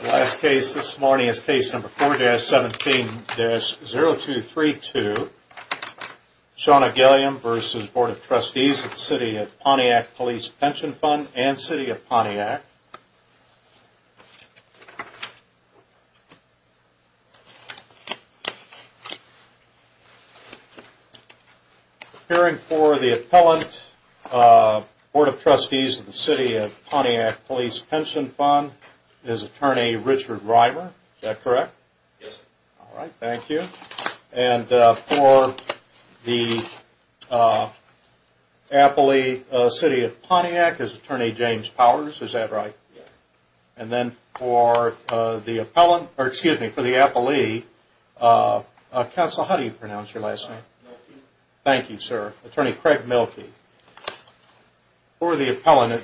The last case this morning is case number 4-17-0232. Shauna Gilliam v. Board of Trustees of the City of Pontiac Police Pension Fund and City of Pontiac. Appearing for the appellant Board of Trustees of the City of Pontiac Police Pension Fund is Attorney Richard Reimer. Is that correct? Yes sir. All right, thank you. And for the appellee City of Pontiac is Attorney James Powers. Is that right? Yes. And then for the appellant, or excuse me, for the appellee, Counsel, how do you pronounce your last name? Mielke. Thank you sir. Attorney Craig Mielke. For the appellant,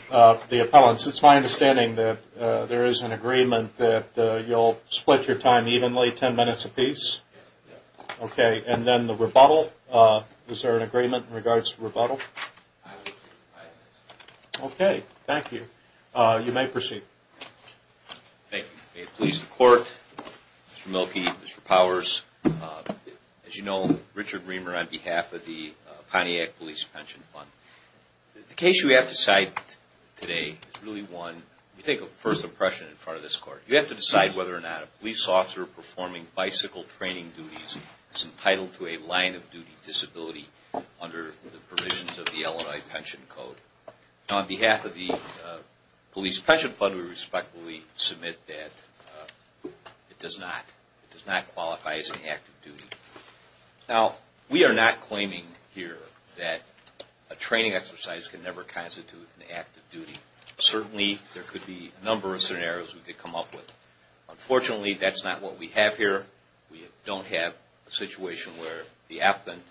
it's my understanding that there is an agreement that you'll split your time evenly, 10 minutes apiece? Yes. Okay, and then the rebuttal, is there an agreement in regards to rebuttal? Aye. Okay, thank you. You may proceed. Thank you. May it please the Court, Mr. Mielke, Mr. Powers, as you know, Richard Reimer on behalf of the Pontiac Police Pension Fund. The case you have to cite today is really one, you think of first impression in front of this Court. You have to decide whether or not a police officer performing bicycle training duties is entitled to a line of duty disability under the provisions of the Illinois Pension Code. On behalf of the Police Pension Fund, we respectfully submit that it does not. It does not qualify as an act of duty. Now, we are not claiming here that a training exercise can never constitute an act of duty. Certainly, there could be a number of scenarios we could come up with. Unfortunately, that's not what we have here. We don't have a situation where the appellant,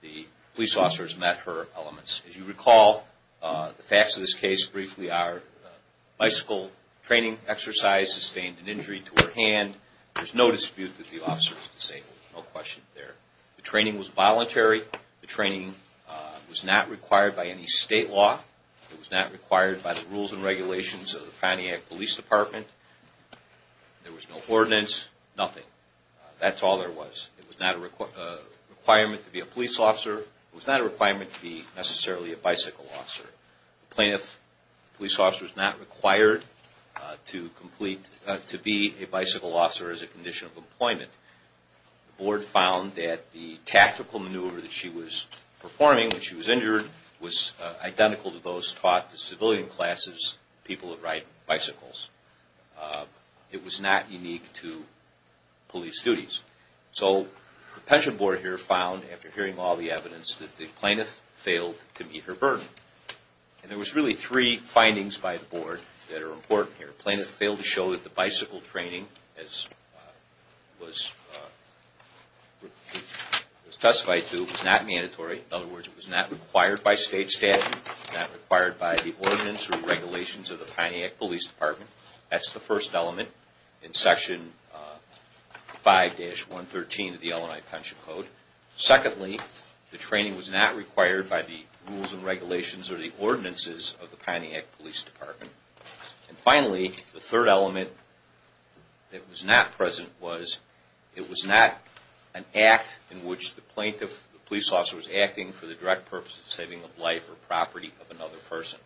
the police officer has met her elements. As you recall, the facts of this case briefly are bicycle training exercise sustained an injury to her hand. There's no dispute that the officer is disabled. No question there. The training was voluntary. The training was not required by any state law. It was not required by the rules and regulations of the Pontiac Police Department. There was no ordinance, nothing. That's all there was. It was not a requirement to be a police officer. It was not a requirement to be necessarily a bicycle officer. A plaintiff police officer is not required to be a bicycle officer as a condition of employment. The board found that the tactical maneuver that she was performing when she was injured was identical to those taught to civilian classes, people that ride bicycles. It was not unique to police duties. So the pension board here found, after hearing all the evidence, that the plaintiff failed to meet her burden. And there was really three findings by the board that are important here. The plaintiff failed to show that the bicycle training as it was testified to was not mandatory. In other words, it was not required by state statute. It was not required by the ordinance or regulations of the Pontiac Police Department. That's the first element in Section 5-113 of the Illinois Pension Code. Secondly, the training was not required by the rules and regulations or the ordinances of the Pontiac Police Department. And finally, the third element that was not present was it was not an act in which the police officer was acting for the direct purpose of saving the life or property of another person.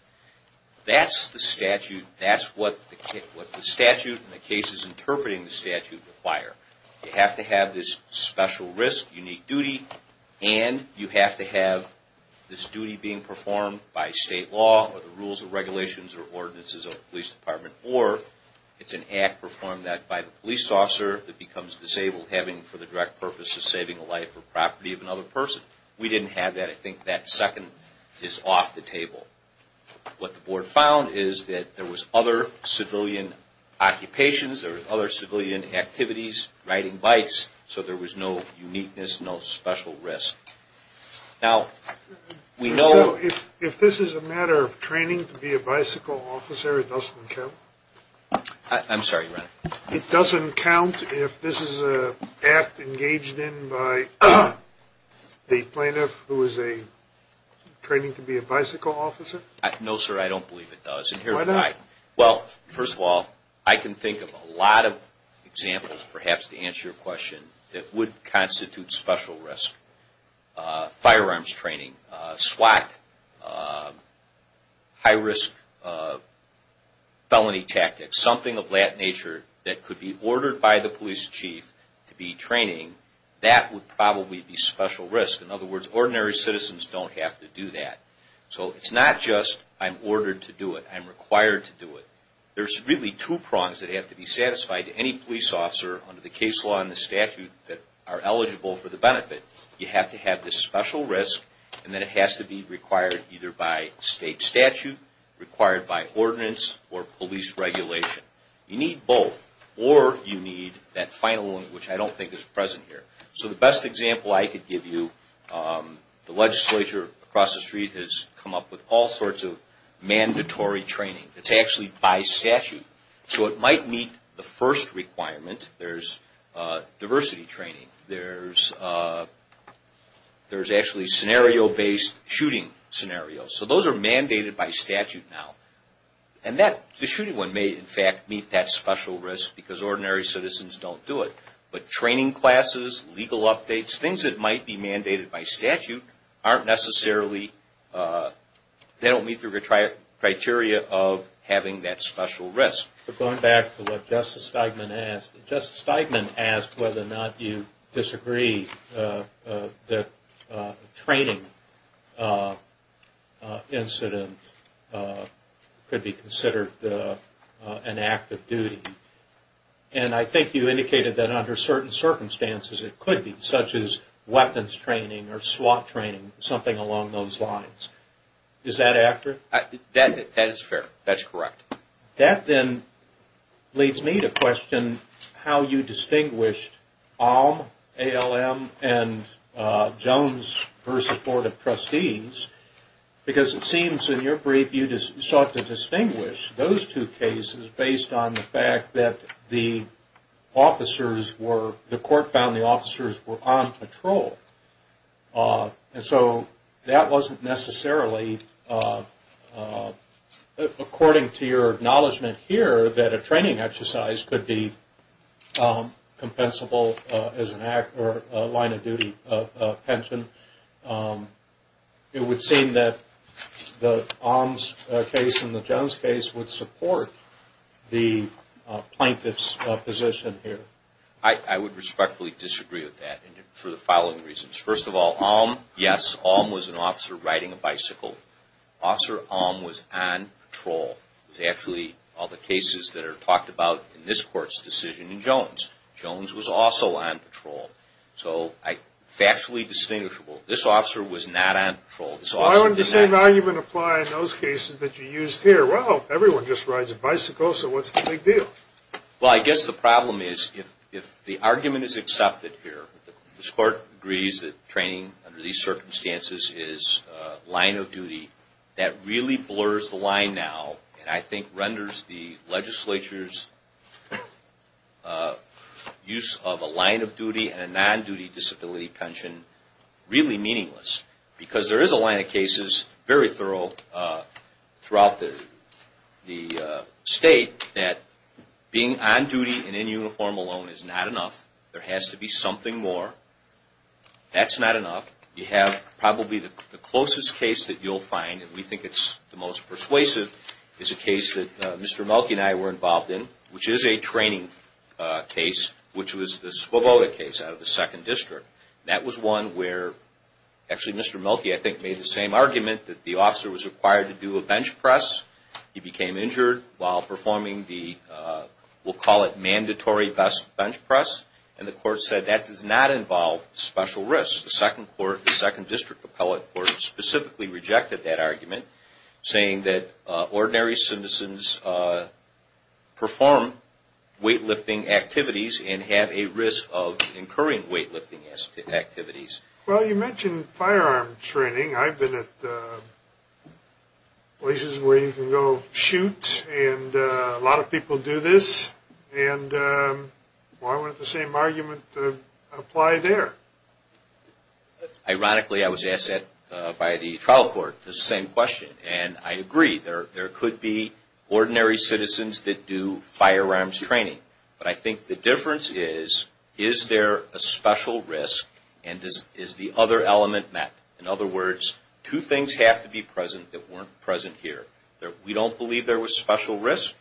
That's the statute. That's what the statute and the cases interpreting the statute require. You have to have this special risk, unique duty, and you have to have this duty being performed by state law or the rules and regulations or ordinances of the police department. Or it's an act performed by the police officer that becomes disabled having for the direct purpose of saving the life or property of another person. We didn't have that. I think that second is off the table. What the board found is that there was other civilian occupations, there were other civilian activities, riding bikes, so there was no uniqueness, no special risk. If this is a matter of training to be a bicycle officer, it doesn't count? I'm sorry, your Honor. It doesn't count if this is an act engaged in by the plaintiff who is training to be a bicycle officer? No, sir, I don't believe it does. Why not? Well, first of all, I can think of a lot of examples perhaps to answer your question that would constitute special risk. Firearms training, SWAT, high risk felony tactics, something of that nature that could be ordered by the police chief to be training, that would probably be special risk. In other words, ordinary citizens don't have to do that. So it's not just I'm ordered to do it, I'm required to do it. There's really two prongs that have to be satisfied to any police officer under the case law and the statute that are eligible for the benefit. You have to have this special risk, and then it has to be required either by state statute, required by ordinance, or police regulation. You need both, or you need that final one, which I don't think is present here. So the best example I could give you, the legislature across the street has come up with all sorts of mandatory training. It's actually by statute. So it might meet the first requirement. There's diversity training. There's actually scenario-based shooting scenarios. So those are mandated by statute now. And the shooting one may, in fact, meet that special risk because ordinary citizens don't do it. But training classes, legal updates, things that might be mandated by statute aren't necessarily, they don't meet the criteria of having that special risk. Going back to what Justice Steigman asked, Justice Steigman asked whether or not you disagree that a training incident could be considered an act of duty. And I think you indicated that under certain circumstances it could be, such as weapons training or SWAT training, something along those lines. Is that accurate? That is fair. That's correct. That then leads me to question how you distinguished ALM, A-L-M, and Jones v. Board of Trustees, because it seems in your brief you sought to distinguish those two cases based on the fact that the officers were, the court found the officers were on patrol. And so that wasn't necessarily, according to your acknowledgement here, that a training exercise could be compensable as an act or a line of duty pension. It would seem that the ALM case and the Jones case would support the plaintiff's position here. I would respectfully disagree with that for the following reasons. First of all, ALM, yes, ALM was an officer riding a bicycle. Officer ALM was on patrol. It was actually all the cases that are talked about in this Court's decision in Jones. Jones was also on patrol. So factually distinguishable. This officer was not on patrol. Why wouldn't the same argument apply in those cases that you used here? Well, everyone just rides a bicycle, so what's the big deal? Well, I guess the problem is if the argument is accepted here, this Court agrees that training under these circumstances is a line of duty, that really blurs the line now and I think renders the legislature's use of a line of duty and a non-duty disability pension really meaningless. Because there is a line of cases, very thorough, throughout the State, that being on duty and in uniform alone is not enough. There has to be something more. That's not enough. You have probably the closest case that you'll find, and we think it's the most persuasive, is a case that Mr. Mulkey and I were involved in, which is a training case, which was the Svoboda case out of the 2nd District. That was one where actually Mr. Mulkey, I think, made the same argument that the officer was required to do a bench press. He became injured while performing the, we'll call it mandatory bench press, and the Court said that does not involve special risks. The 2nd District Appellate Court specifically rejected that argument, saying that ordinary citizens perform weightlifting activities and have a risk of incurring weightlifting activities. Well, you mentioned firearm training. I've been at places where you can go shoot, and a lot of people do this, and why wouldn't the same argument apply there? Ironically, I was asked that by the trial court, the same question, and I agree. There could be ordinary citizens that do firearms training, but I think the difference is, is there a special risk and is the other element met? In other words, two things have to be present that weren't present here. We don't believe there was special risk.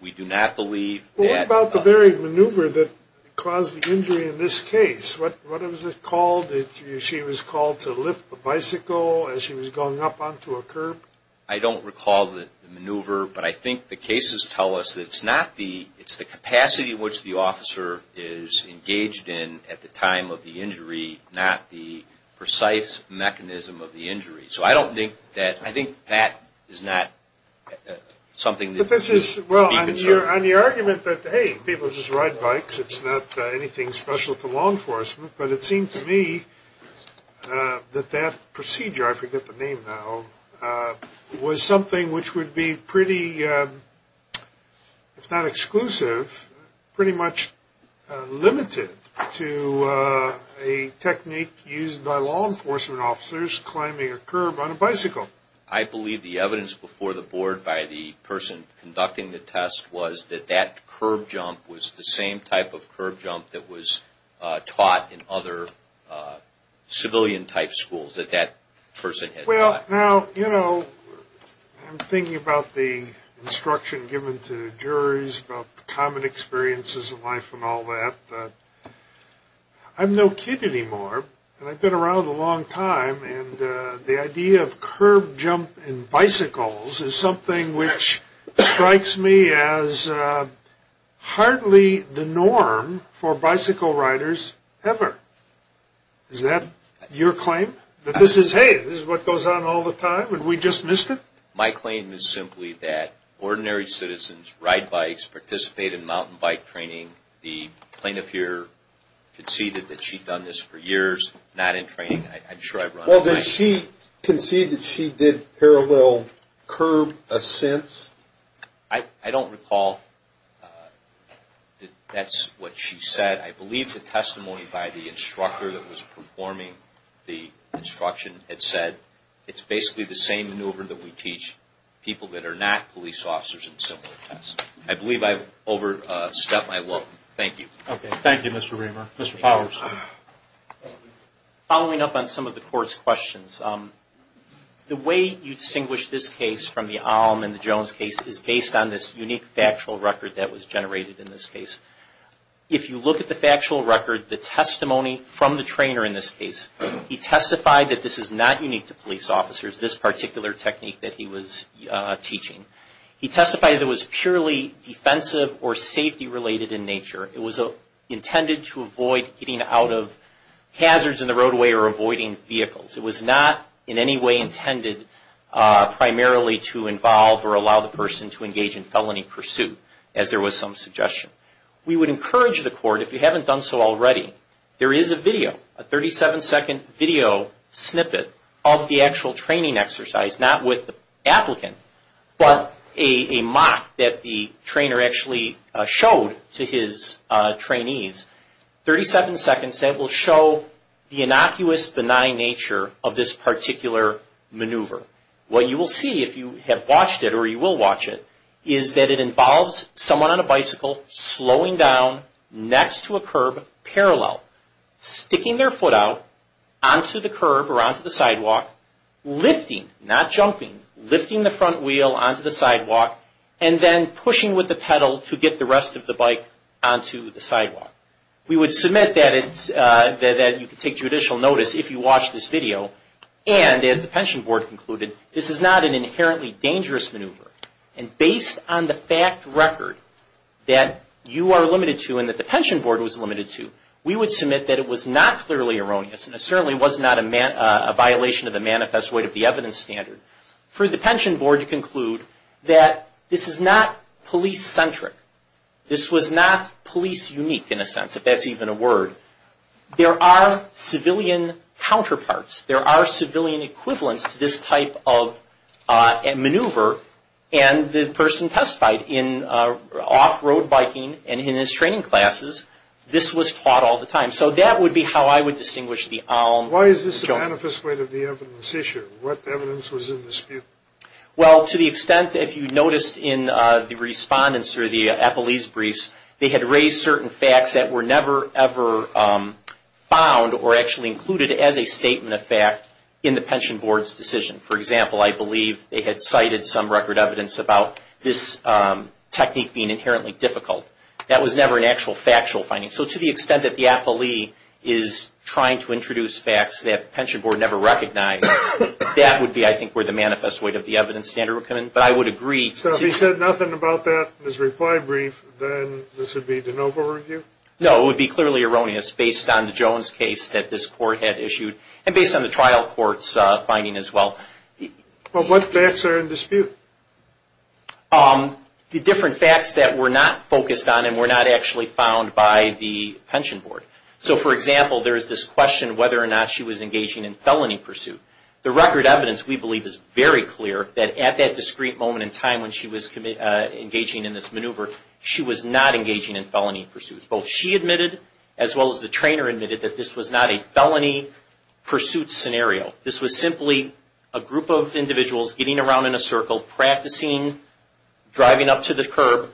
We do not believe that. What about the very maneuver that caused the injury in this case? What was it called? She was called to lift the bicycle as she was going up onto a curb. I don't recall the maneuver, but I think the cases tell us that it's not the, it's the capacity in which the officer is engaged in at the time of the injury, not the precise mechanism of the injury. So I don't think that, I think that is not something that should be concerned. But this is, well, on the argument that, hey, people just ride bikes, it's not anything special to law enforcement. But it seemed to me that that procedure, I forget the name now, was something which would be pretty, if not exclusive, pretty much limited to a technique used by law enforcement officers climbing a curb on a bicycle. I believe the evidence before the board by the person conducting the test was that that curb jump was the same type of curb jump that was taught in other civilian-type schools, that that person had taught. Well, now, you know, I'm thinking about the instruction given to juries, about the common experiences in life and all that. I'm no kid anymore, and I've been around a long time, and the idea of curb jump in bicycles is something which strikes me as hardly the norm for bicycle riders ever. Is that your claim, that this is, hey, this is what goes on all the time, and we just missed it? My claim is simply that ordinary citizens ride bikes, participate in mountain bike training. The plaintiff here conceded that she'd done this for years, not in training. Well, did she concede that she did parallel curb ascents? I don't recall that that's what she said. I believe the testimony by the instructor that was performing the instruction had said it's basically the same maneuver that we teach people that are not police officers in similar tests. I believe I've overstepped my welcome. Thank you. Okay. Thank you, Mr. Reamer. Mr. Powers. Following up on some of the court's questions, the way you distinguish this case from the Alm and the Jones case is based on this unique factual record that was generated in this case. If you look at the factual record, the testimony from the trainer in this case, he testified that this is not unique to police officers, this particular technique that he was teaching. He testified that it was purely defensive or safety-related in nature. It was intended to avoid getting out of hazards in the roadway or avoiding vehicles. It was not in any way intended primarily to involve or allow the person to engage in felony pursuit, as there was some suggestion. We would encourage the court, if you haven't done so already, there is a video, a 37-second video snippet of the actual training exercise, not with the applicant, but a mock that the trainer actually showed to his trainees. Thirty-seven seconds that will show the innocuous, benign nature of this particular maneuver. What you will see, if you have watched it or you will watch it, is that it involves someone on a bicycle slowing down next to a curb parallel, sticking their foot out onto the curb or onto the sidewalk, lifting, not jumping, lifting the front wheel onto the sidewalk, and then pushing with the pedal to get the rest of the bike onto the sidewalk. We would submit that you could take judicial notice if you watched this video, and as the pension board concluded, this is not an inherently dangerous maneuver. And based on the fact record that you are limited to and that the pension board was limited to, we would submit that it was not clearly erroneous, and it certainly was not a violation of the manifest weight of the evidence standard. For the pension board to conclude that this is not police-centric, this was not police-unique in a sense, if that's even a word, there are civilian counterparts, there are civilian equivalents to this type of maneuver, and the person testified in off-road biking and in his training classes, this was taught all the time. So that would be how I would distinguish the ALM. Why is this a manifest weight of the evidence issue? What evidence was in dispute? Well, to the extent, if you noticed, in the respondent's or the appellee's briefs, they had raised certain facts that were never ever found or actually included as a statement of fact in the pension board's decision. For example, I believe they had cited some record evidence about this technique being inherently difficult. That was never an actual factual finding. So to the extent that the appellee is trying to introduce facts that the pension board never recognized, that would be, I think, where the manifest weight of the evidence standard would come in. But I would agree. So if he said nothing about that in his reply brief, then this would be de novo review? No, it would be clearly erroneous based on the Jones case that this court had issued and based on the trial court's finding as well. But what facts are in dispute? The different facts that were not focused on and were not actually found by the pension board. So, for example, there is this question of whether or not she was engaging in felony pursuit. The record evidence, we believe, is very clear that at that discreet moment in time when she was engaging in this maneuver, she was not engaging in felony pursuit. Both she admitted as well as the trainer admitted that this was not a felony pursuit scenario. This was simply a group of individuals getting around in a circle, practicing, driving up to the curb,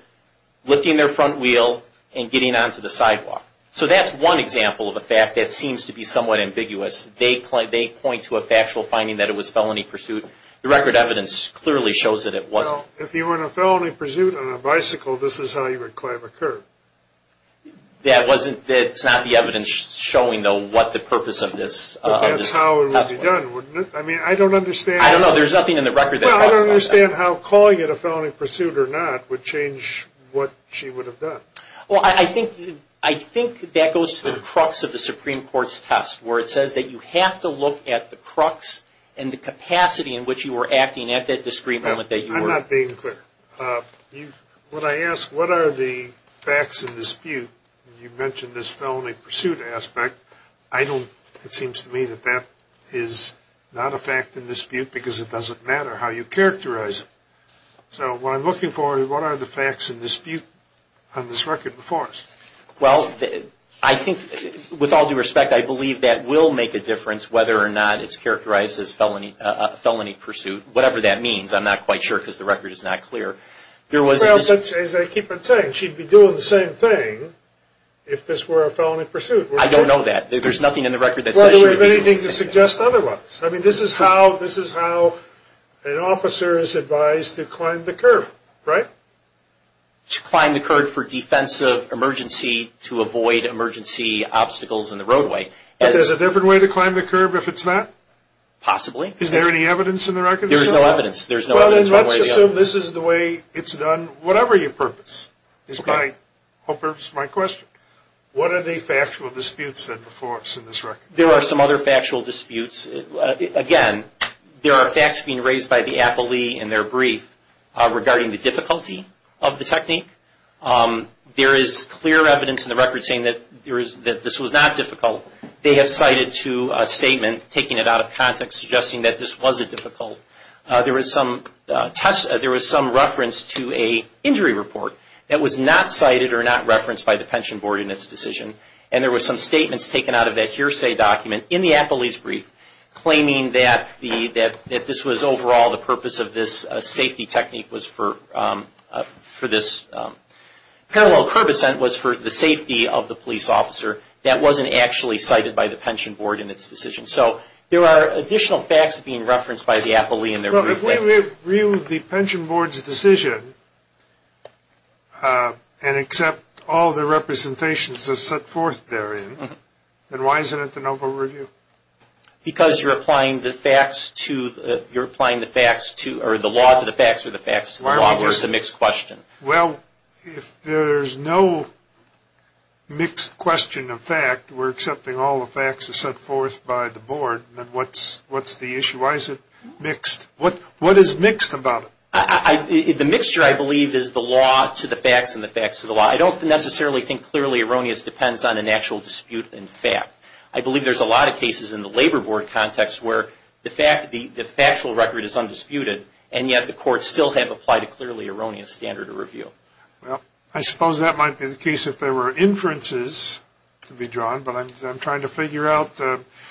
lifting their front wheel, and getting onto the sidewalk. So that's one example of a fact that seems to be somewhat ambiguous. They point to a factual finding that it was felony pursuit. The record evidence clearly shows that it wasn't. Well, if you were in a felony pursuit on a bicycle, this is how you would climb a curb. That's not the evidence showing, though, what the purpose of this. That's how it would be done, wouldn't it? I mean, I don't understand. I don't know. There's nothing in the record that talks about that. I don't understand how calling it a felony pursuit or not would change what she would have done. Well, I think that goes to the crux of the Supreme Court's test, where it says that you have to look at the crux and the capacity in which you were acting at that discreet moment that you were. I'm not being clear. When I ask what are the facts in dispute, you mentioned this felony pursuit aspect. It seems to me that that is not a fact in dispute because it doesn't matter how you characterize it. So what I'm looking for is what are the facts in dispute on this record before us? Well, I think, with all due respect, I believe that will make a difference whether or not it's characterized as felony pursuit, whatever that means. I'm not quite sure because the record is not clear. Well, as I keep on saying, she'd be doing the same thing if this were a felony pursuit. I don't know that. There's nothing in the record that says she would be doing the same thing. Well, do we have anything to suggest otherwise? I mean, this is how an officer is advised to climb the curb, right? To climb the curb for defensive emergency, to avoid emergency obstacles in the roadway. But there's a different way to climb the curb if it's not? Possibly. Is there any evidence in the record? There's no evidence. There's no evidence. Well, then let's assume this is the way it's done, whatever your purpose is. My purpose, my question. What are the factual disputes that before us in this record? There are some other factual disputes. Again, there are facts being raised by the appellee in their brief regarding the difficulty of the technique. There is clear evidence in the record saying that this was not difficult. They have cited to a statement, taking it out of context, suggesting that this wasn't difficult. There was some test, there was some reference to a injury report that was not cited or not cited by the pension board in its decision. And there was some statements taken out of that hearsay document in the appellee's brief, claiming that the, that this was overall the purpose of this safety technique was for, for this parallel curb ascent was for the safety of the police officer. That wasn't actually cited by the pension board in its decision. So there are additional facts being referenced by the appellee in their brief. If we review the pension board's decision, and accept all the representations that's set forth therein, then why isn't it the NOVA review? Because you're applying the facts to, you're applying the facts to, or the law to the facts or the facts to the law, or it's a mixed question. Well, if there's no mixed question of fact, we're accepting all the facts that's set forth by the board, then what's, what's the issue? Why is it mixed? What, what is mixed about it? I, the mixture I believe is the law to the facts and the facts to the law. I don't necessarily think clearly erroneous depends on an actual dispute in fact. I believe there's a lot of cases in the labor board context where the fact, the, the factual record is undisputed and yet the courts still have applied a clearly erroneous standard of review. Well, I suppose that might be the case if there were inferences to be drawn, but I'm, I'm trying to figure out, well,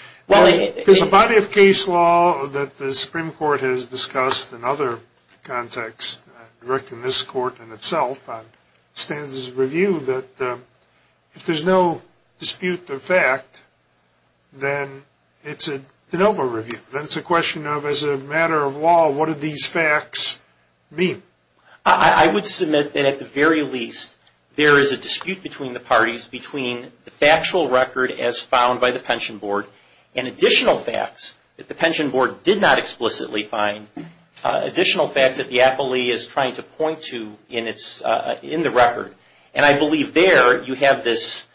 there's a body of case law that the Supreme court has discussed in other contexts, directing this court in itself on standards of review that if there's no dispute of fact, then it's a de novo review. Then it's a question of, as a matter of law, what are these facts mean? I, I would submit that at the very least there is a dispute between the parties between the factual record as found by the pension board and additional facts that the pension board did not explicitly find additional facts that the appellee is trying to point to in its, in the record. And I believe there you have this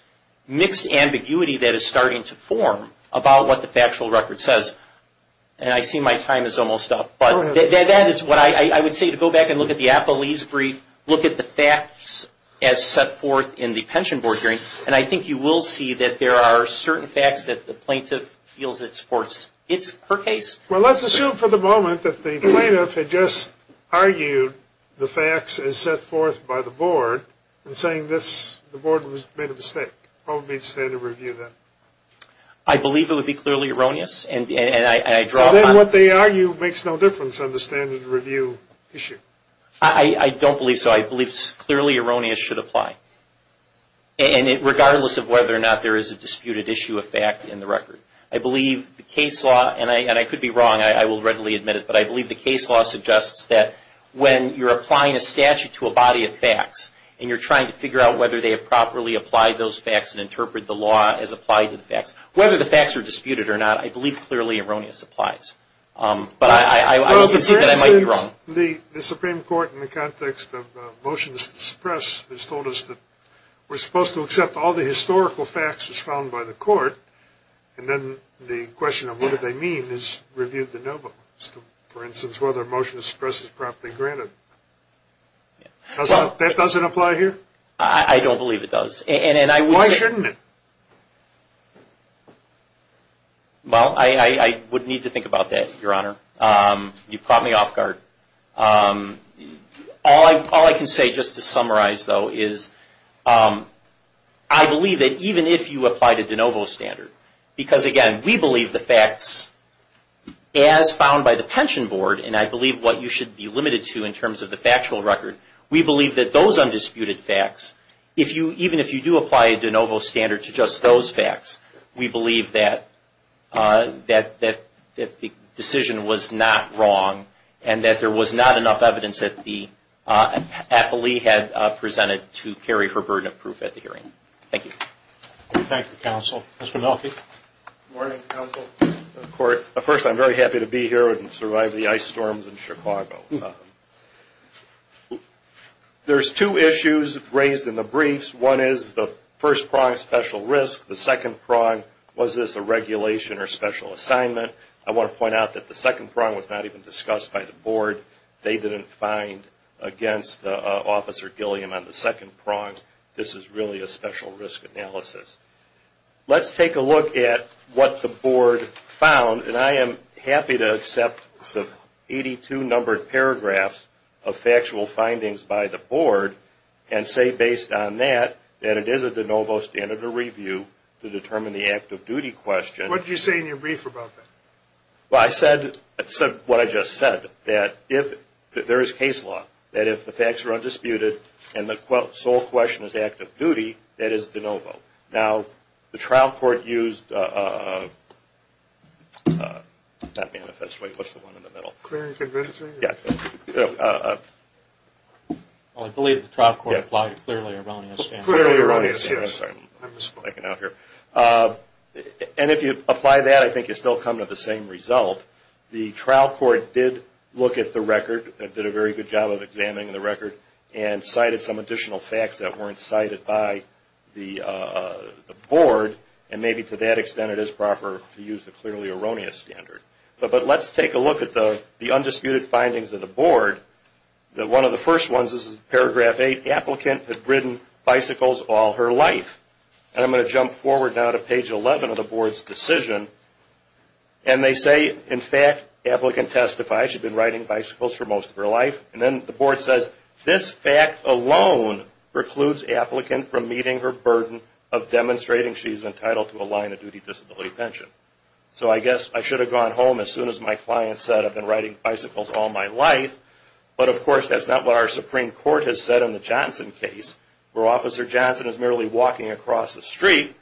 mixed ambiguity that is starting to form about what the factual record says. And I see my time is almost up, but that is what I would say to go back and look at the appellee's brief, look at the facts as set forth in the pension board hearing. And I think you will see that there are certain facts that the plaintiff feels it's forced. It's her case. Well, let's assume for the moment that the plaintiff had just argued the facts as set forth by the board and saying this, the board was made a mistake. What would be the standard review then? I believe it would be clearly erroneous. And I, I draw on what they argue makes no difference on the standard review issue. I don't believe so. I believe clearly erroneous should apply. And regardless of whether or not there is a disputed issue of fact in the record, I believe the case law, and I could be wrong, I will readily admit it, but I believe the case law suggests that when you're applying a statute to a body of facts and you're trying to figure out whether they have properly applied those facts and interpret the law as applied to the facts, whether the facts are disputed or not, I believe clearly erroneous applies. But I would concede that I might be wrong. The Supreme Court, in the context of motions to suppress, has told us that we're supposed to accept all the historical facts as found by the court. And then the question of what do they mean is reviewed de novo. For instance, whether a motion to suppress is properly granted. That doesn't apply here? I don't believe it does. Why shouldn't it? Well, I would need to think about that, Your Honor. You've caught me off guard. All I can say, just to summarize, though, is I believe that even if you applied a de novo standard, because again, we believe the facts as found by the pension board, and I believe what you should be limited to in terms of the factual record, we believe that those undisputed facts, even if you do apply a de novo standard to just those facts, we believe that the decision was not wrong, and that there was not enough evidence that the appellee had presented to carry her burden of proof at the hearing. Thank you. Thank you, Counsel. Mr. Mielke. Good morning, Counsel. First, I'm very happy to be here and survive the ice storms in Chicago. There's two issues raised in the briefs. One is the first prior special risk. The second prong, was this a regulation or special assignment? I want to point out that the second prong was not even discussed by the board. They didn't find, against Officer Gilliam on the second prong, this is really a special risk analysis. Let's take a look at what the board found, and I am happy to accept the 82 numbered paragraphs of factual findings by the board, and say based on that, that it is a de novo standard of review to determine the active duty question. What did you say in your brief about that? Well, I said what I just said, that if there is case law, that if the facts are undisputed, and the sole question is active duty, that is de novo. Now, the trial court used, not manifest, wait, what's the one in the middle? Clear and convincing? Yeah. Well, I believe the trial court applied a clearly erroneous standard. Clearly erroneous, yes. And if you apply that, I think you still come to the same result. The trial court did look at the record, did a very good job of examining the record, and cited some additional facts that weren't cited by the board, and maybe to that extent, it is proper to use the clearly erroneous standard. But let's take a look at the undisputed findings of the board. One of the first ones, this is paragraph 8, applicant had ridden bicycles all her life. And I'm going to jump forward now to page 11 of the board's decision. And they say, in fact, applicant testifies she'd been riding bicycles for most of her life. And then the board says, this fact alone precludes applicant from meeting her burden of demonstrating she's entitled to a line of duty disability pension. So I guess I should have gone home as soon as my client said, I've been riding bicycles all my life. But of course, that's not what our Supreme Court has said in the Johnson case, where Officer Johnson is merely walking across the street.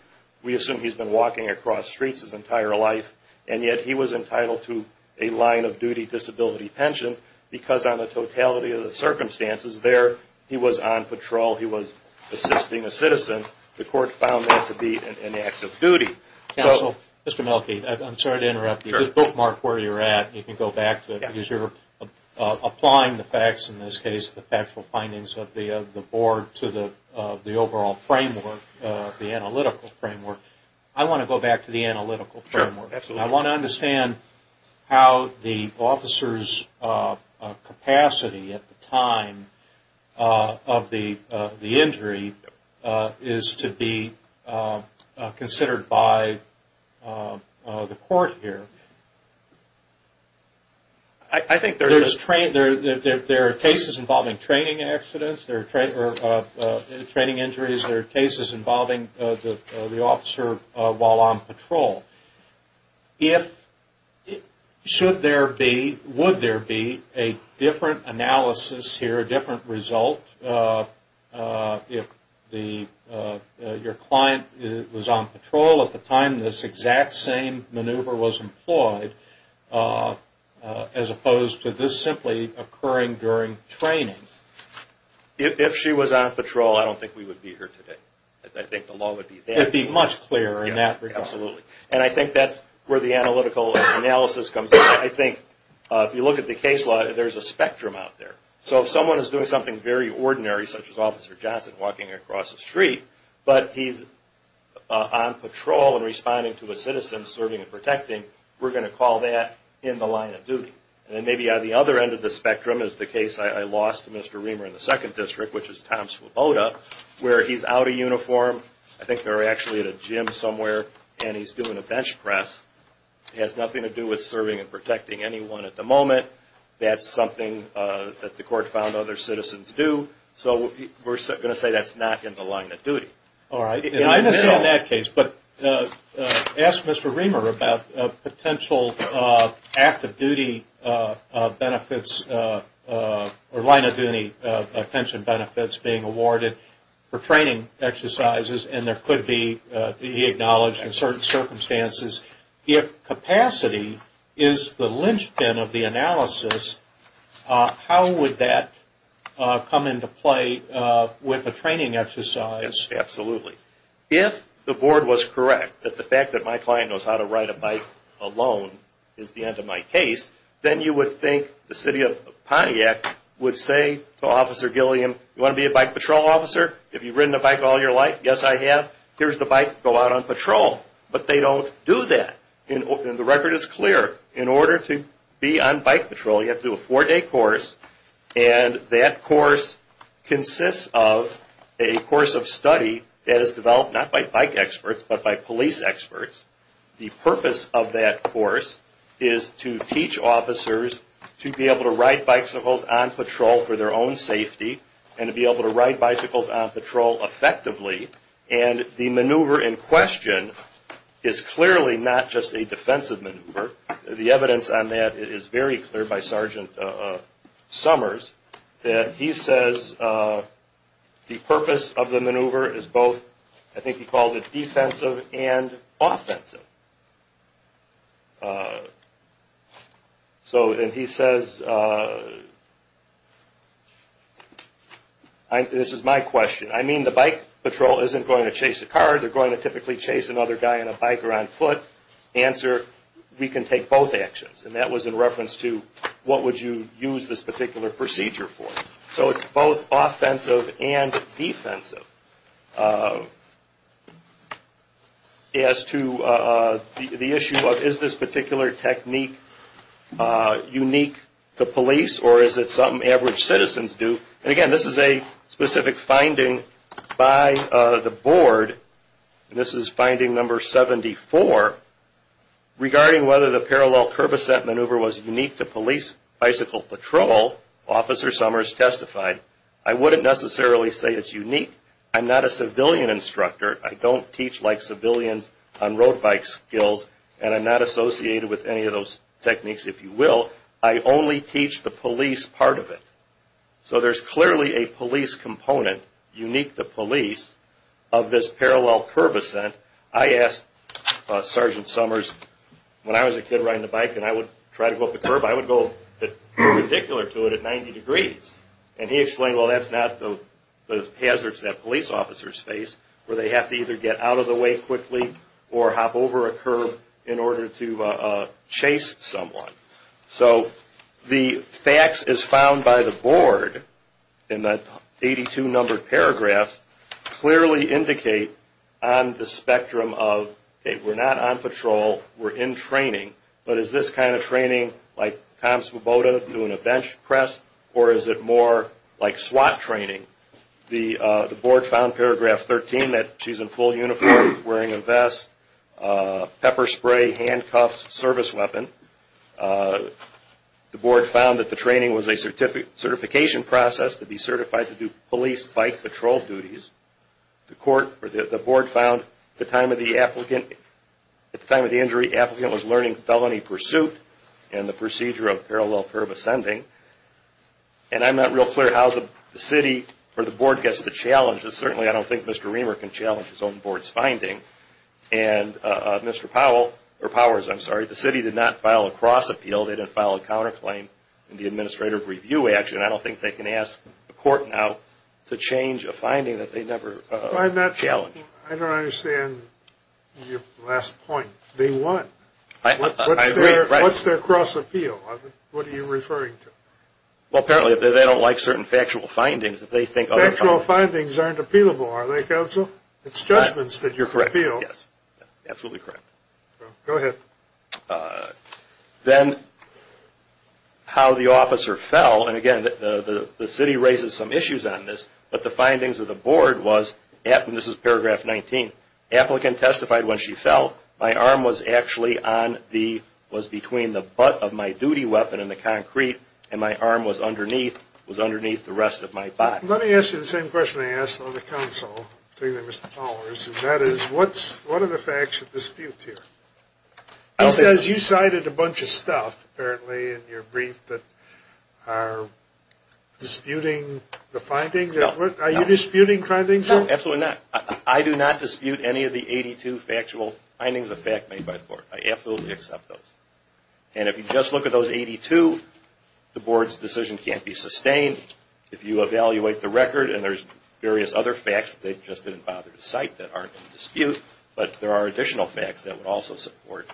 We assume he's been walking across streets his entire life, and yet he was entitled to a line of duty disability pension, because on the totality of the circumstances there, he was on patrol, he was assisting a citizen. The court found that to be an act of duty. Mr. Melke, I'm sorry to interrupt you. Bookmark where you're at. You can go back to it, because you're applying the facts, in this case the factual findings of the board, to the overall framework, the analytical framework. I want to go back to the analytical framework. I want to understand how the officer's capacity at the time of the injury is to be considered by the court here. I think there are cases involving training injuries, there are cases involving the officer while on patrol. If, should there be, would there be a different analysis here, or a different result, if your client was on patrol at the time this exact same maneuver was employed, as opposed to this simply occurring during training? If she was on patrol, I don't think we would be here today. I think the law would be that way. It would be much clearer in that regard. Absolutely. And I think that's where the analytical analysis comes in. I think if you look at the case law, there's a spectrum out there. So if someone is doing something very ordinary, such as Officer Johnson walking across the street, but he's on patrol and responding to a citizen serving and protecting, we're going to call that in the line of duty. And maybe on the other end of the spectrum, is the case I lost to Mr. Reamer in the 2nd District, which is Tom Swoboda, where he's out of uniform, I think they were actually at a gym somewhere, and he's doing a bench press. It has nothing to do with serving and protecting anyone at the moment. That's something that the court found other citizens do. So we're going to say that's not in the line of duty. All right. And I understand that case. But ask Mr. Reamer about potential active duty benefits or line of duty pension benefits being awarded for training exercises, and there could be, he acknowledged, in certain circumstances, if capacity is the linchpin of the analysis, how would that come into play with a training exercise? Absolutely. If the board was correct that the fact that my client knows how to ride a bike alone is the end of my case, then you would think the city of Pontiac would say to Officer Gilliam, you want to be a bike patrol officer? Have you ridden a bike all your life? Yes, I have. Here's the bike. Go out on patrol. But they don't do that. And the record is clear. In order to be on bike patrol, you have to do a four-day course, and that course consists of a course of study that is developed not by bike experts but by police experts. The purpose of that course is to teach officers to be able to ride bicycles on patrol for their own safety and to be able to ride bicycles on patrol effectively. And the maneuver in question is clearly not just a defensive maneuver. The evidence on that is very clear by Sergeant Summers. He says the purpose of the maneuver is both, I think he called it, defensive and offensive. He says, this is my question, I mean the bike patrol isn't going to chase a car, they're going to typically chase another guy on a bike or on foot. Answer, we can take both actions. And that was in reference to what would you use this particular procedure for. So it's both offensive and defensive. As to the issue of is this particular technique unique to police or is it something average citizens do? Again, this is a specific finding by the board. This is finding number 74. Regarding whether the parallel curb ascent maneuver was unique to police bicycle patrol, Officer Summers testified, I wouldn't necessarily say it's unique. I'm not a civilian instructor. I don't teach like civilians on road bike skills, and I'm not associated with any of those techniques, if you will. I only teach the police part of it. So there's clearly a police component, unique to police, of this parallel curb ascent. I asked Sergeant Summers, when I was a kid riding a bike and I would try to go up a curb, I would go ridiculous to it at 90 degrees. And he explained, well, that's not the hazards that police officers face, where they have to either get out of the way quickly or hop over a curb in order to chase someone. So the facts as found by the board in that 82-numbered paragraph clearly indicate on the spectrum of, okay, we're not on patrol, we're in training, but is this kind of training like Tom Swoboda doing a bench press or is it more like SWAT training? The board found paragraph 13 that she's in full uniform, wearing a vest, pepper spray, handcuffs, service weapon. The board found that the training was a certification process to be certified to do police bike patrol duties. The board found at the time of the injury, the applicant was learning felony pursuit and the procedure of parallel curb ascending. And I'm not real clear how the city or the board gets the challenge, but certainly I don't think Mr. Reamer can challenge his own board's finding. And Mr. Powers, the city did not file a cross appeal, they didn't file a counterclaim in the administrative review action, and I don't think they can ask the court now to change a finding that they never challenged. I don't understand your last point. They won. What's their cross appeal? What are you referring to? Well, apparently they don't like certain factual findings. Factual findings aren't appealable, are they, counsel? It's judgments that you're appeal. Yes, absolutely correct. Go ahead. Then how the officer fell, and again, the city raises some issues on this, but the findings of the board was, and this is paragraph 19, applicant testified when she fell, my arm was actually on the, was between the butt of my duty weapon and the concrete, and my arm was underneath the rest of my body. Let me ask you the same question I asked on the council, particularly Mr. Powers, and that is what are the facts of dispute here? He says you cited a bunch of stuff apparently in your brief that are disputing the findings. Are you disputing findings here? No, absolutely not. I do not dispute any of the 82 factual findings of fact made by the board. I absolutely accept those. And if you just look at those 82, the board's decision can't be sustained. If you evaluate the record, and there's various other facts they just didn't bother to cite that aren't in dispute, but there are additional facts that would also support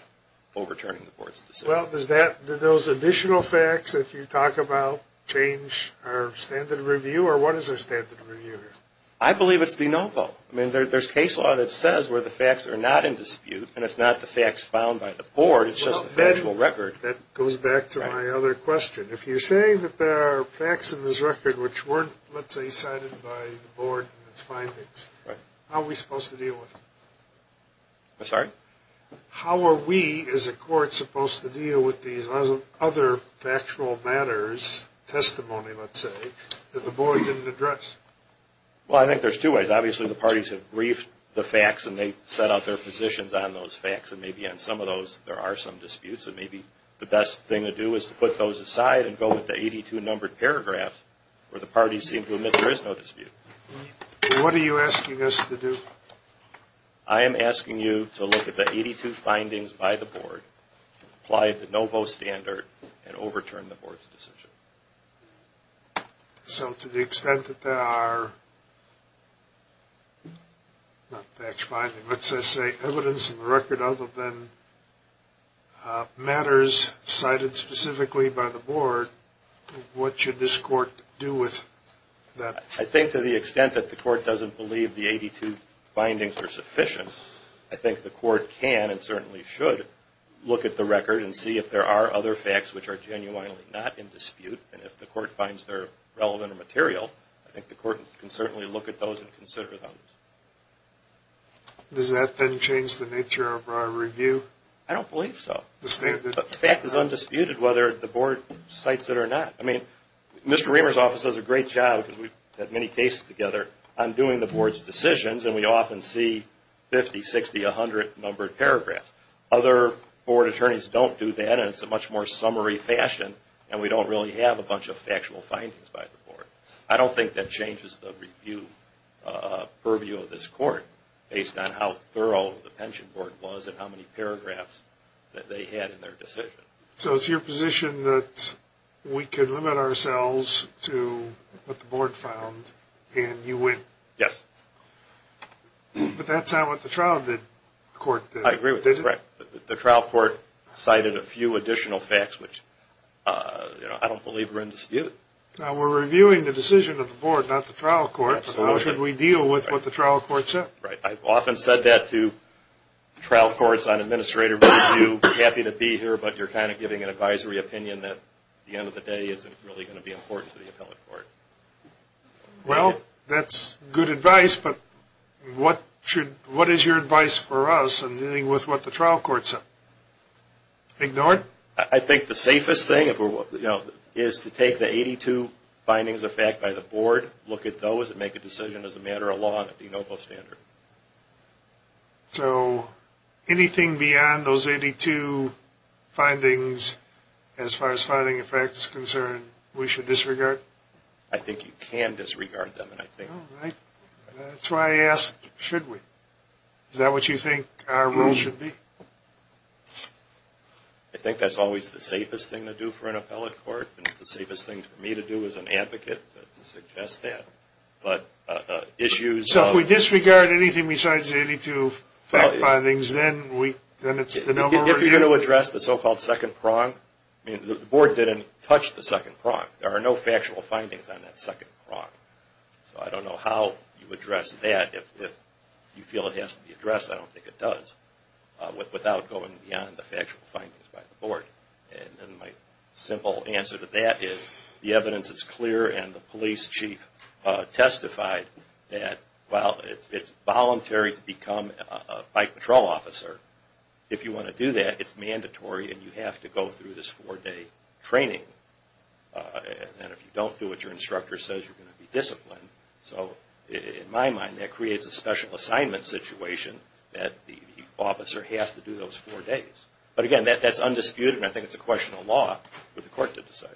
overturning the board's decision. Well, does that, do those additional facts that you talk about change our standard of review, or what is our standard of review here? I believe it's de novo. I mean, there's case law that says where the facts are not in dispute, and it's not the facts found by the board, it's just the factual record. That goes back to my other question. If you're saying that there are facts in this record which weren't, let's say, cited by the board in its findings, how are we supposed to deal with them? I'm sorry? How are we, as a court, supposed to deal with these other factual matters, testimony, let's say, that the board didn't address? Well, I think there's two ways. Obviously, the parties have briefed the facts, and they've set out their positions on those facts, and maybe on some of those there are some disputes, and maybe the best thing to do is to put those aside and go with the 82-numbered paragraph where the parties seem to admit there is no dispute. What are you asking us to do? I am asking you to look at the 82 findings by the board, apply the de novo standard, and overturn the board's decision. So to the extent that there are evidence in the record other than matters cited specifically by the board, what should this court do with that? I think to the extent that the court doesn't believe the 82 findings are sufficient, I think the court can and certainly should look at the record and see if there are other facts which are genuinely not in dispute, and if the court finds they're relevant or material, I think the court can certainly look at those and consider them. Does that then change the nature of our review? I don't believe so. The fact is undisputed whether the board cites it or not. I mean, Mr. Reamer's office does a great job, because we've had many cases together, on doing the board's decisions, and we often see 50, 60, 100-numbered paragraphs. Other board attorneys don't do that, and it's a much more summary fashion, and we don't really have a bunch of factual findings by the board. I don't think that changes the review purview of this court, based on how thorough the pension board was and how many paragraphs that they had in their decision. So it's your position that we can limit ourselves to what the board found and you win? Yes. But that's not what the trial did, the court did. I agree with that. The trial court cited a few additional facts, which I don't believe are in dispute. Now, we're reviewing the decision of the board, not the trial court, so how should we deal with what the trial court said? Right. I've often said that to trial courts on administrative review, happy to be here, but you're kind of giving an advisory opinion that, at the end of the day, isn't really going to be important to the appellate court. Well, that's good advice, but what is your advice for us? And dealing with what the trial court said? Ignored? I think the safest thing is to take the 82 findings of fact by the board, look at those, and make a decision as a matter of law and a de novo standard. So anything beyond those 82 findings, as far as finding effects are concerned, we should disregard? I think you can disregard them. All right. That's why I asked, should we? Is that what you think our rule should be? I think that's always the safest thing to do for an appellate court, and it's the safest thing for me to do as an advocate to suggest that. So if we disregard anything besides the 82 fact findings, then it's de novo? If you're going to address the so-called second prong, the board didn't touch the second prong. There are no factual findings on that second prong. So I don't know how you address that. If you feel it has to be addressed, I don't think it does without going beyond the factual findings by the board. And then my simple answer to that is the evidence is clear, and the police chief testified that while it's voluntary to become a bike patrol officer, if you want to do that, it's mandatory and you have to go through this four-day training. And if you don't do what your instructor says, you're going to be disciplined. So in my mind, that creates a special assignment situation that the officer has to do those four days. But again, that's undisputed, and I think it's a question of law for the court to decide.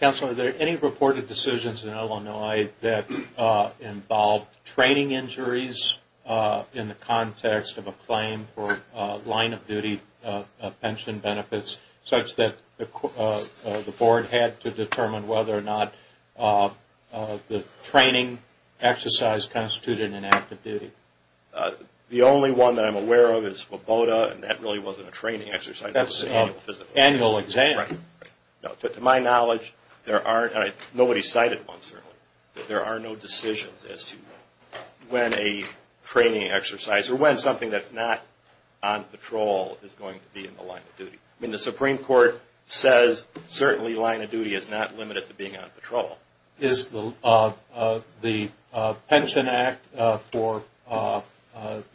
Counselor, are there any reported decisions in Illinois that involve training injuries in the context of a claim for line-of-duty pension benefits such that the board had to determine whether or not the training exercise constituted an act of duty? The only one that I'm aware of is WABOTA, and that really wasn't a training exercise. That's an annual exam. Right. To my knowledge, there aren't, and nobody cited one, certainly, that there are no decisions as to when a training exercise or when something that's not on patrol is going to be in the line of duty. I mean, the Supreme Court says certainly line of duty is not limited to being on patrol. Is the Pension Act for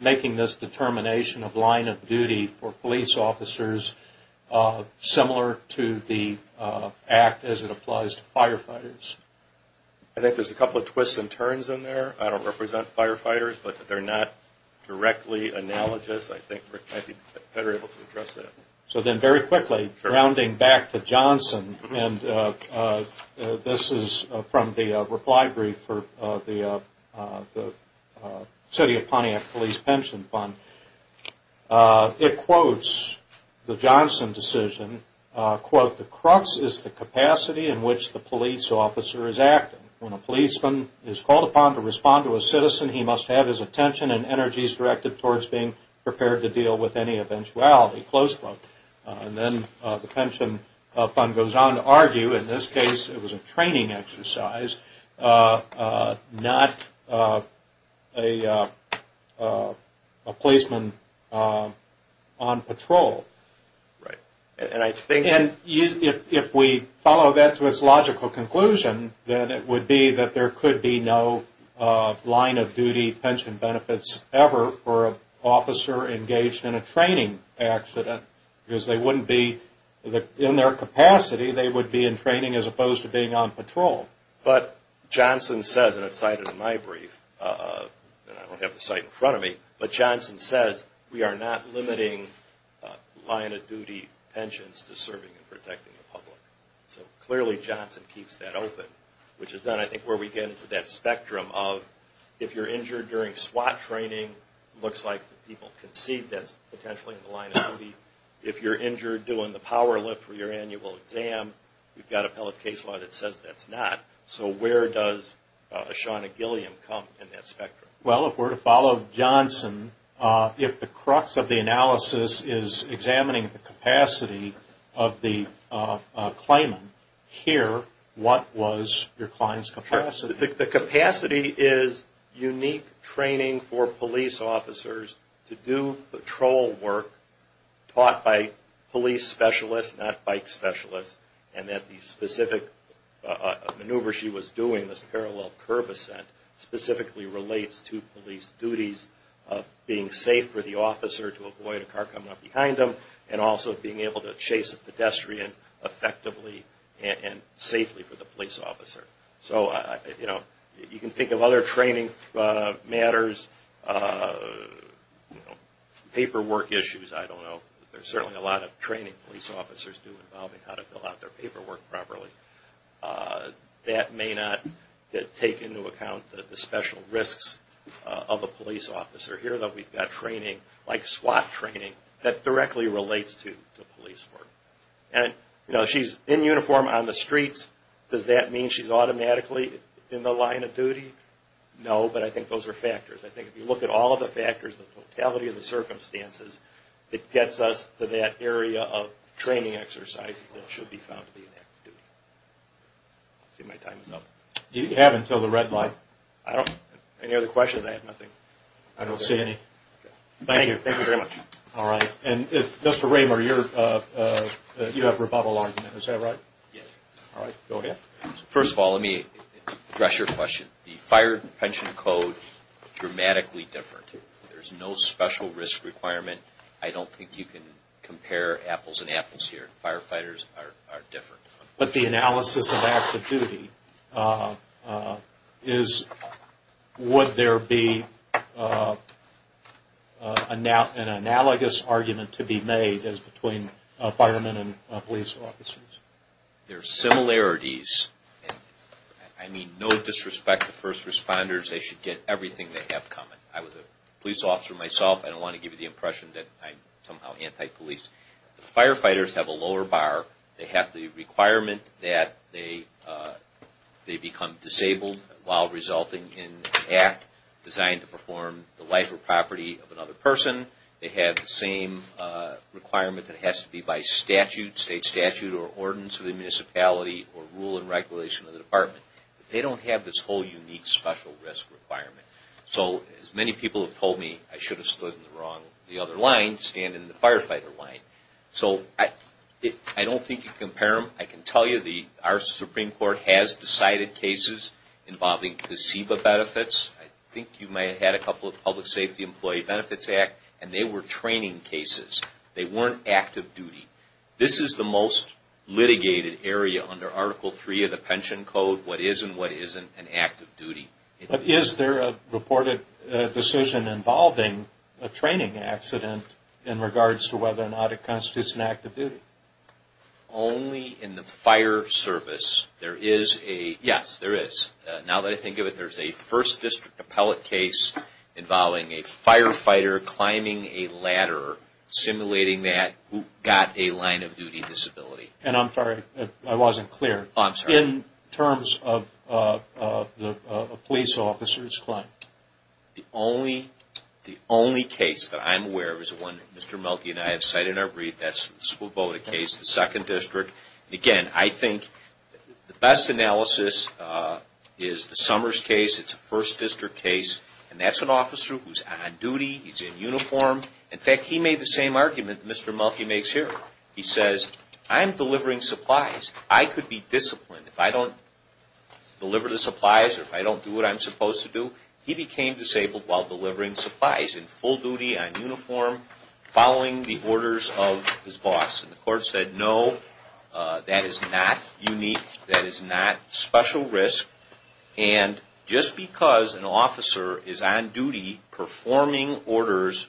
making this determination of line of duty for police officers similar to the act as it applies to firefighters? I think there's a couple of twists and turns in there. I don't represent firefighters, but they're not directly analogous. I think Rick might be better able to address that. So then very quickly, rounding back to Johnson, and this is from the reply brief for the City of Pontiac Police Pension Fund. It quotes the Johnson decision, quote, The crux is the capacity in which the police officer is acting. When a policeman is called upon to respond to a citizen, he must have his attention and energies directed towards being prepared to deal with any eventuality. Close quote. And then the pension fund goes on to argue, in this case, it was a training exercise, not a policeman on patrol. Right. And if we follow that to its logical conclusion, then it would be that there could be no line of duty pension benefits ever for an officer engaged in a training accident. Because they wouldn't be in their capacity, they would be in training as opposed to being on patrol. But Johnson says, and it's cited in my brief, and I don't have the site in front of me, but Johnson says we are not limiting line of duty pensions to serving and protecting the public. So clearly Johnson keeps that open, which is then I think where we get into that spectrum of if you're injured during SWAT training, it looks like the people can see that's potentially in the line of duty. If you're injured doing the power lift for your annual exam, you've got appellate case law that says that's not. So where does Shawna Gilliam come in that spectrum? Well, if we're to follow Johnson, if the crux of the analysis is examining the capacity of the claimant, here, what was your client's capacity? The capacity is unique training for police officers to do patrol work taught by police specialists, not bike specialists, and that the specific maneuver she was doing, this parallel curb ascent, specifically relates to police duties of being safe for the officer to avoid a car coming up behind them, and also being able to chase a pedestrian effectively and safely for the police officer. So you can think of other training matters, paperwork issues, I don't know. There's certainly a lot of training police officers do involving how to fill out their paperwork properly. That may not take into account the special risks of a police officer. Here, though, we've got training, like SWAT training, that directly relates to police work. And, you know, she's in uniform on the streets, does that mean she's automatically in the line of duty? No, but I think those are factors. I think if you look at all of the factors, the totality of the circumstances, it gets us to that area of training exercises that should be found to be in active duty. I see my time is up. You have until the red light. Any other questions? I have nothing. I don't see any. Thank you, thank you very much. All right, and Mr. Raymer, you have rebuttal argument, is that right? Yes. All right, go ahead. First of all, let me address your question. The fire pension code is dramatically different. There's no special risk requirement. I don't think you can compare apples and apples here. Firefighters are different. But the analysis of active duty is, would there be an analogous argument to be made as between firemen and police officers? There's similarities. I mean, no disrespect to first responders, they should get everything they have coming. I was a police officer myself, I don't want to give you the impression that I'm somehow anti-police. Firefighters have a lower bar. They have the requirement that they become disabled while resulting in an act designed to perform the life or property of another person. They have the same requirement that has to be by statute, state statute or ordinance of the municipality or rule and regulation of the department. They don't have this whole unique special risk requirement. So, as many people have told me, I should have stood in the wrong, the other line, standing in the firefighter line. So, I don't think you can compare them. I can tell you our Supreme Court has decided cases involving placebo benefits. I think you may have had a couple of Public Safety Employee Benefits Act, and they were training cases. They weren't active duty. This is the most litigated area under Article 3 of the pension code, what is and what isn't an active duty. But is there a reported decision involving a training accident in regards to whether or not it constitutes an active duty? Only in the fire service. There is a, yes, there is. Now that I think of it, there's a First District appellate case involving a firefighter climbing a ladder, simulating that, who got a line of duty disability. And I'm sorry, I wasn't clear. In terms of the police officer's claim. The only case that I'm aware of is the one that Mr. Mulkey and I have cited in our brief. That's the Swoboda case, the Second District. Again, I think the best analysis is the Summers case. It's a First District case, and that's an officer who's on duty, he's in uniform. In fact, he made the same argument that Mr. Mulkey makes here. He says, I'm delivering supplies. I could be disciplined if I don't deliver the supplies or if I don't do what I'm supposed to do. He became disabled while delivering supplies in full duty, in uniform, following the orders of his boss. And the court said, no, that is not unique. That is not special risk. And just because an officer is on duty, performing orders,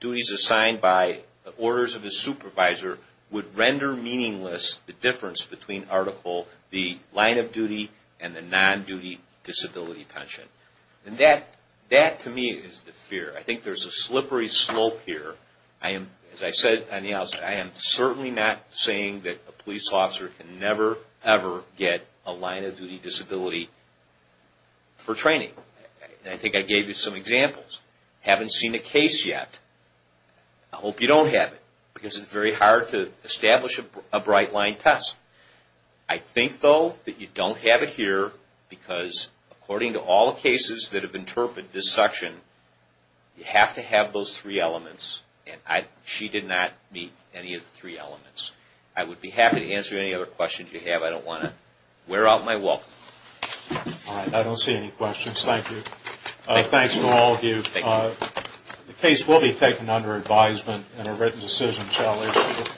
duties assigned by the orders of his supervisor, would render meaningless the difference between Article, the line of duty, and the non-duty disability pension. And that, to me, is the fear. I think there's a slippery slope here. As I said on the outset, I am certainly not saying that a police officer can never, ever get a line of duty disability for training. I think I gave you some examples. I haven't seen a case yet. I hope you don't have it, because it's very hard to establish a bright-line test. I think, though, that you don't have it here, because according to all the cases that have interpreted this section, you have to have those three elements. And she did not meet any of the three elements. I would be happy to answer any other questions you have. I don't want to wear out my welcome. All right. I don't see any questions. Thank you. Thanks to all of you. Thank you. The case will be taken under advisement, and a written decision shall issue.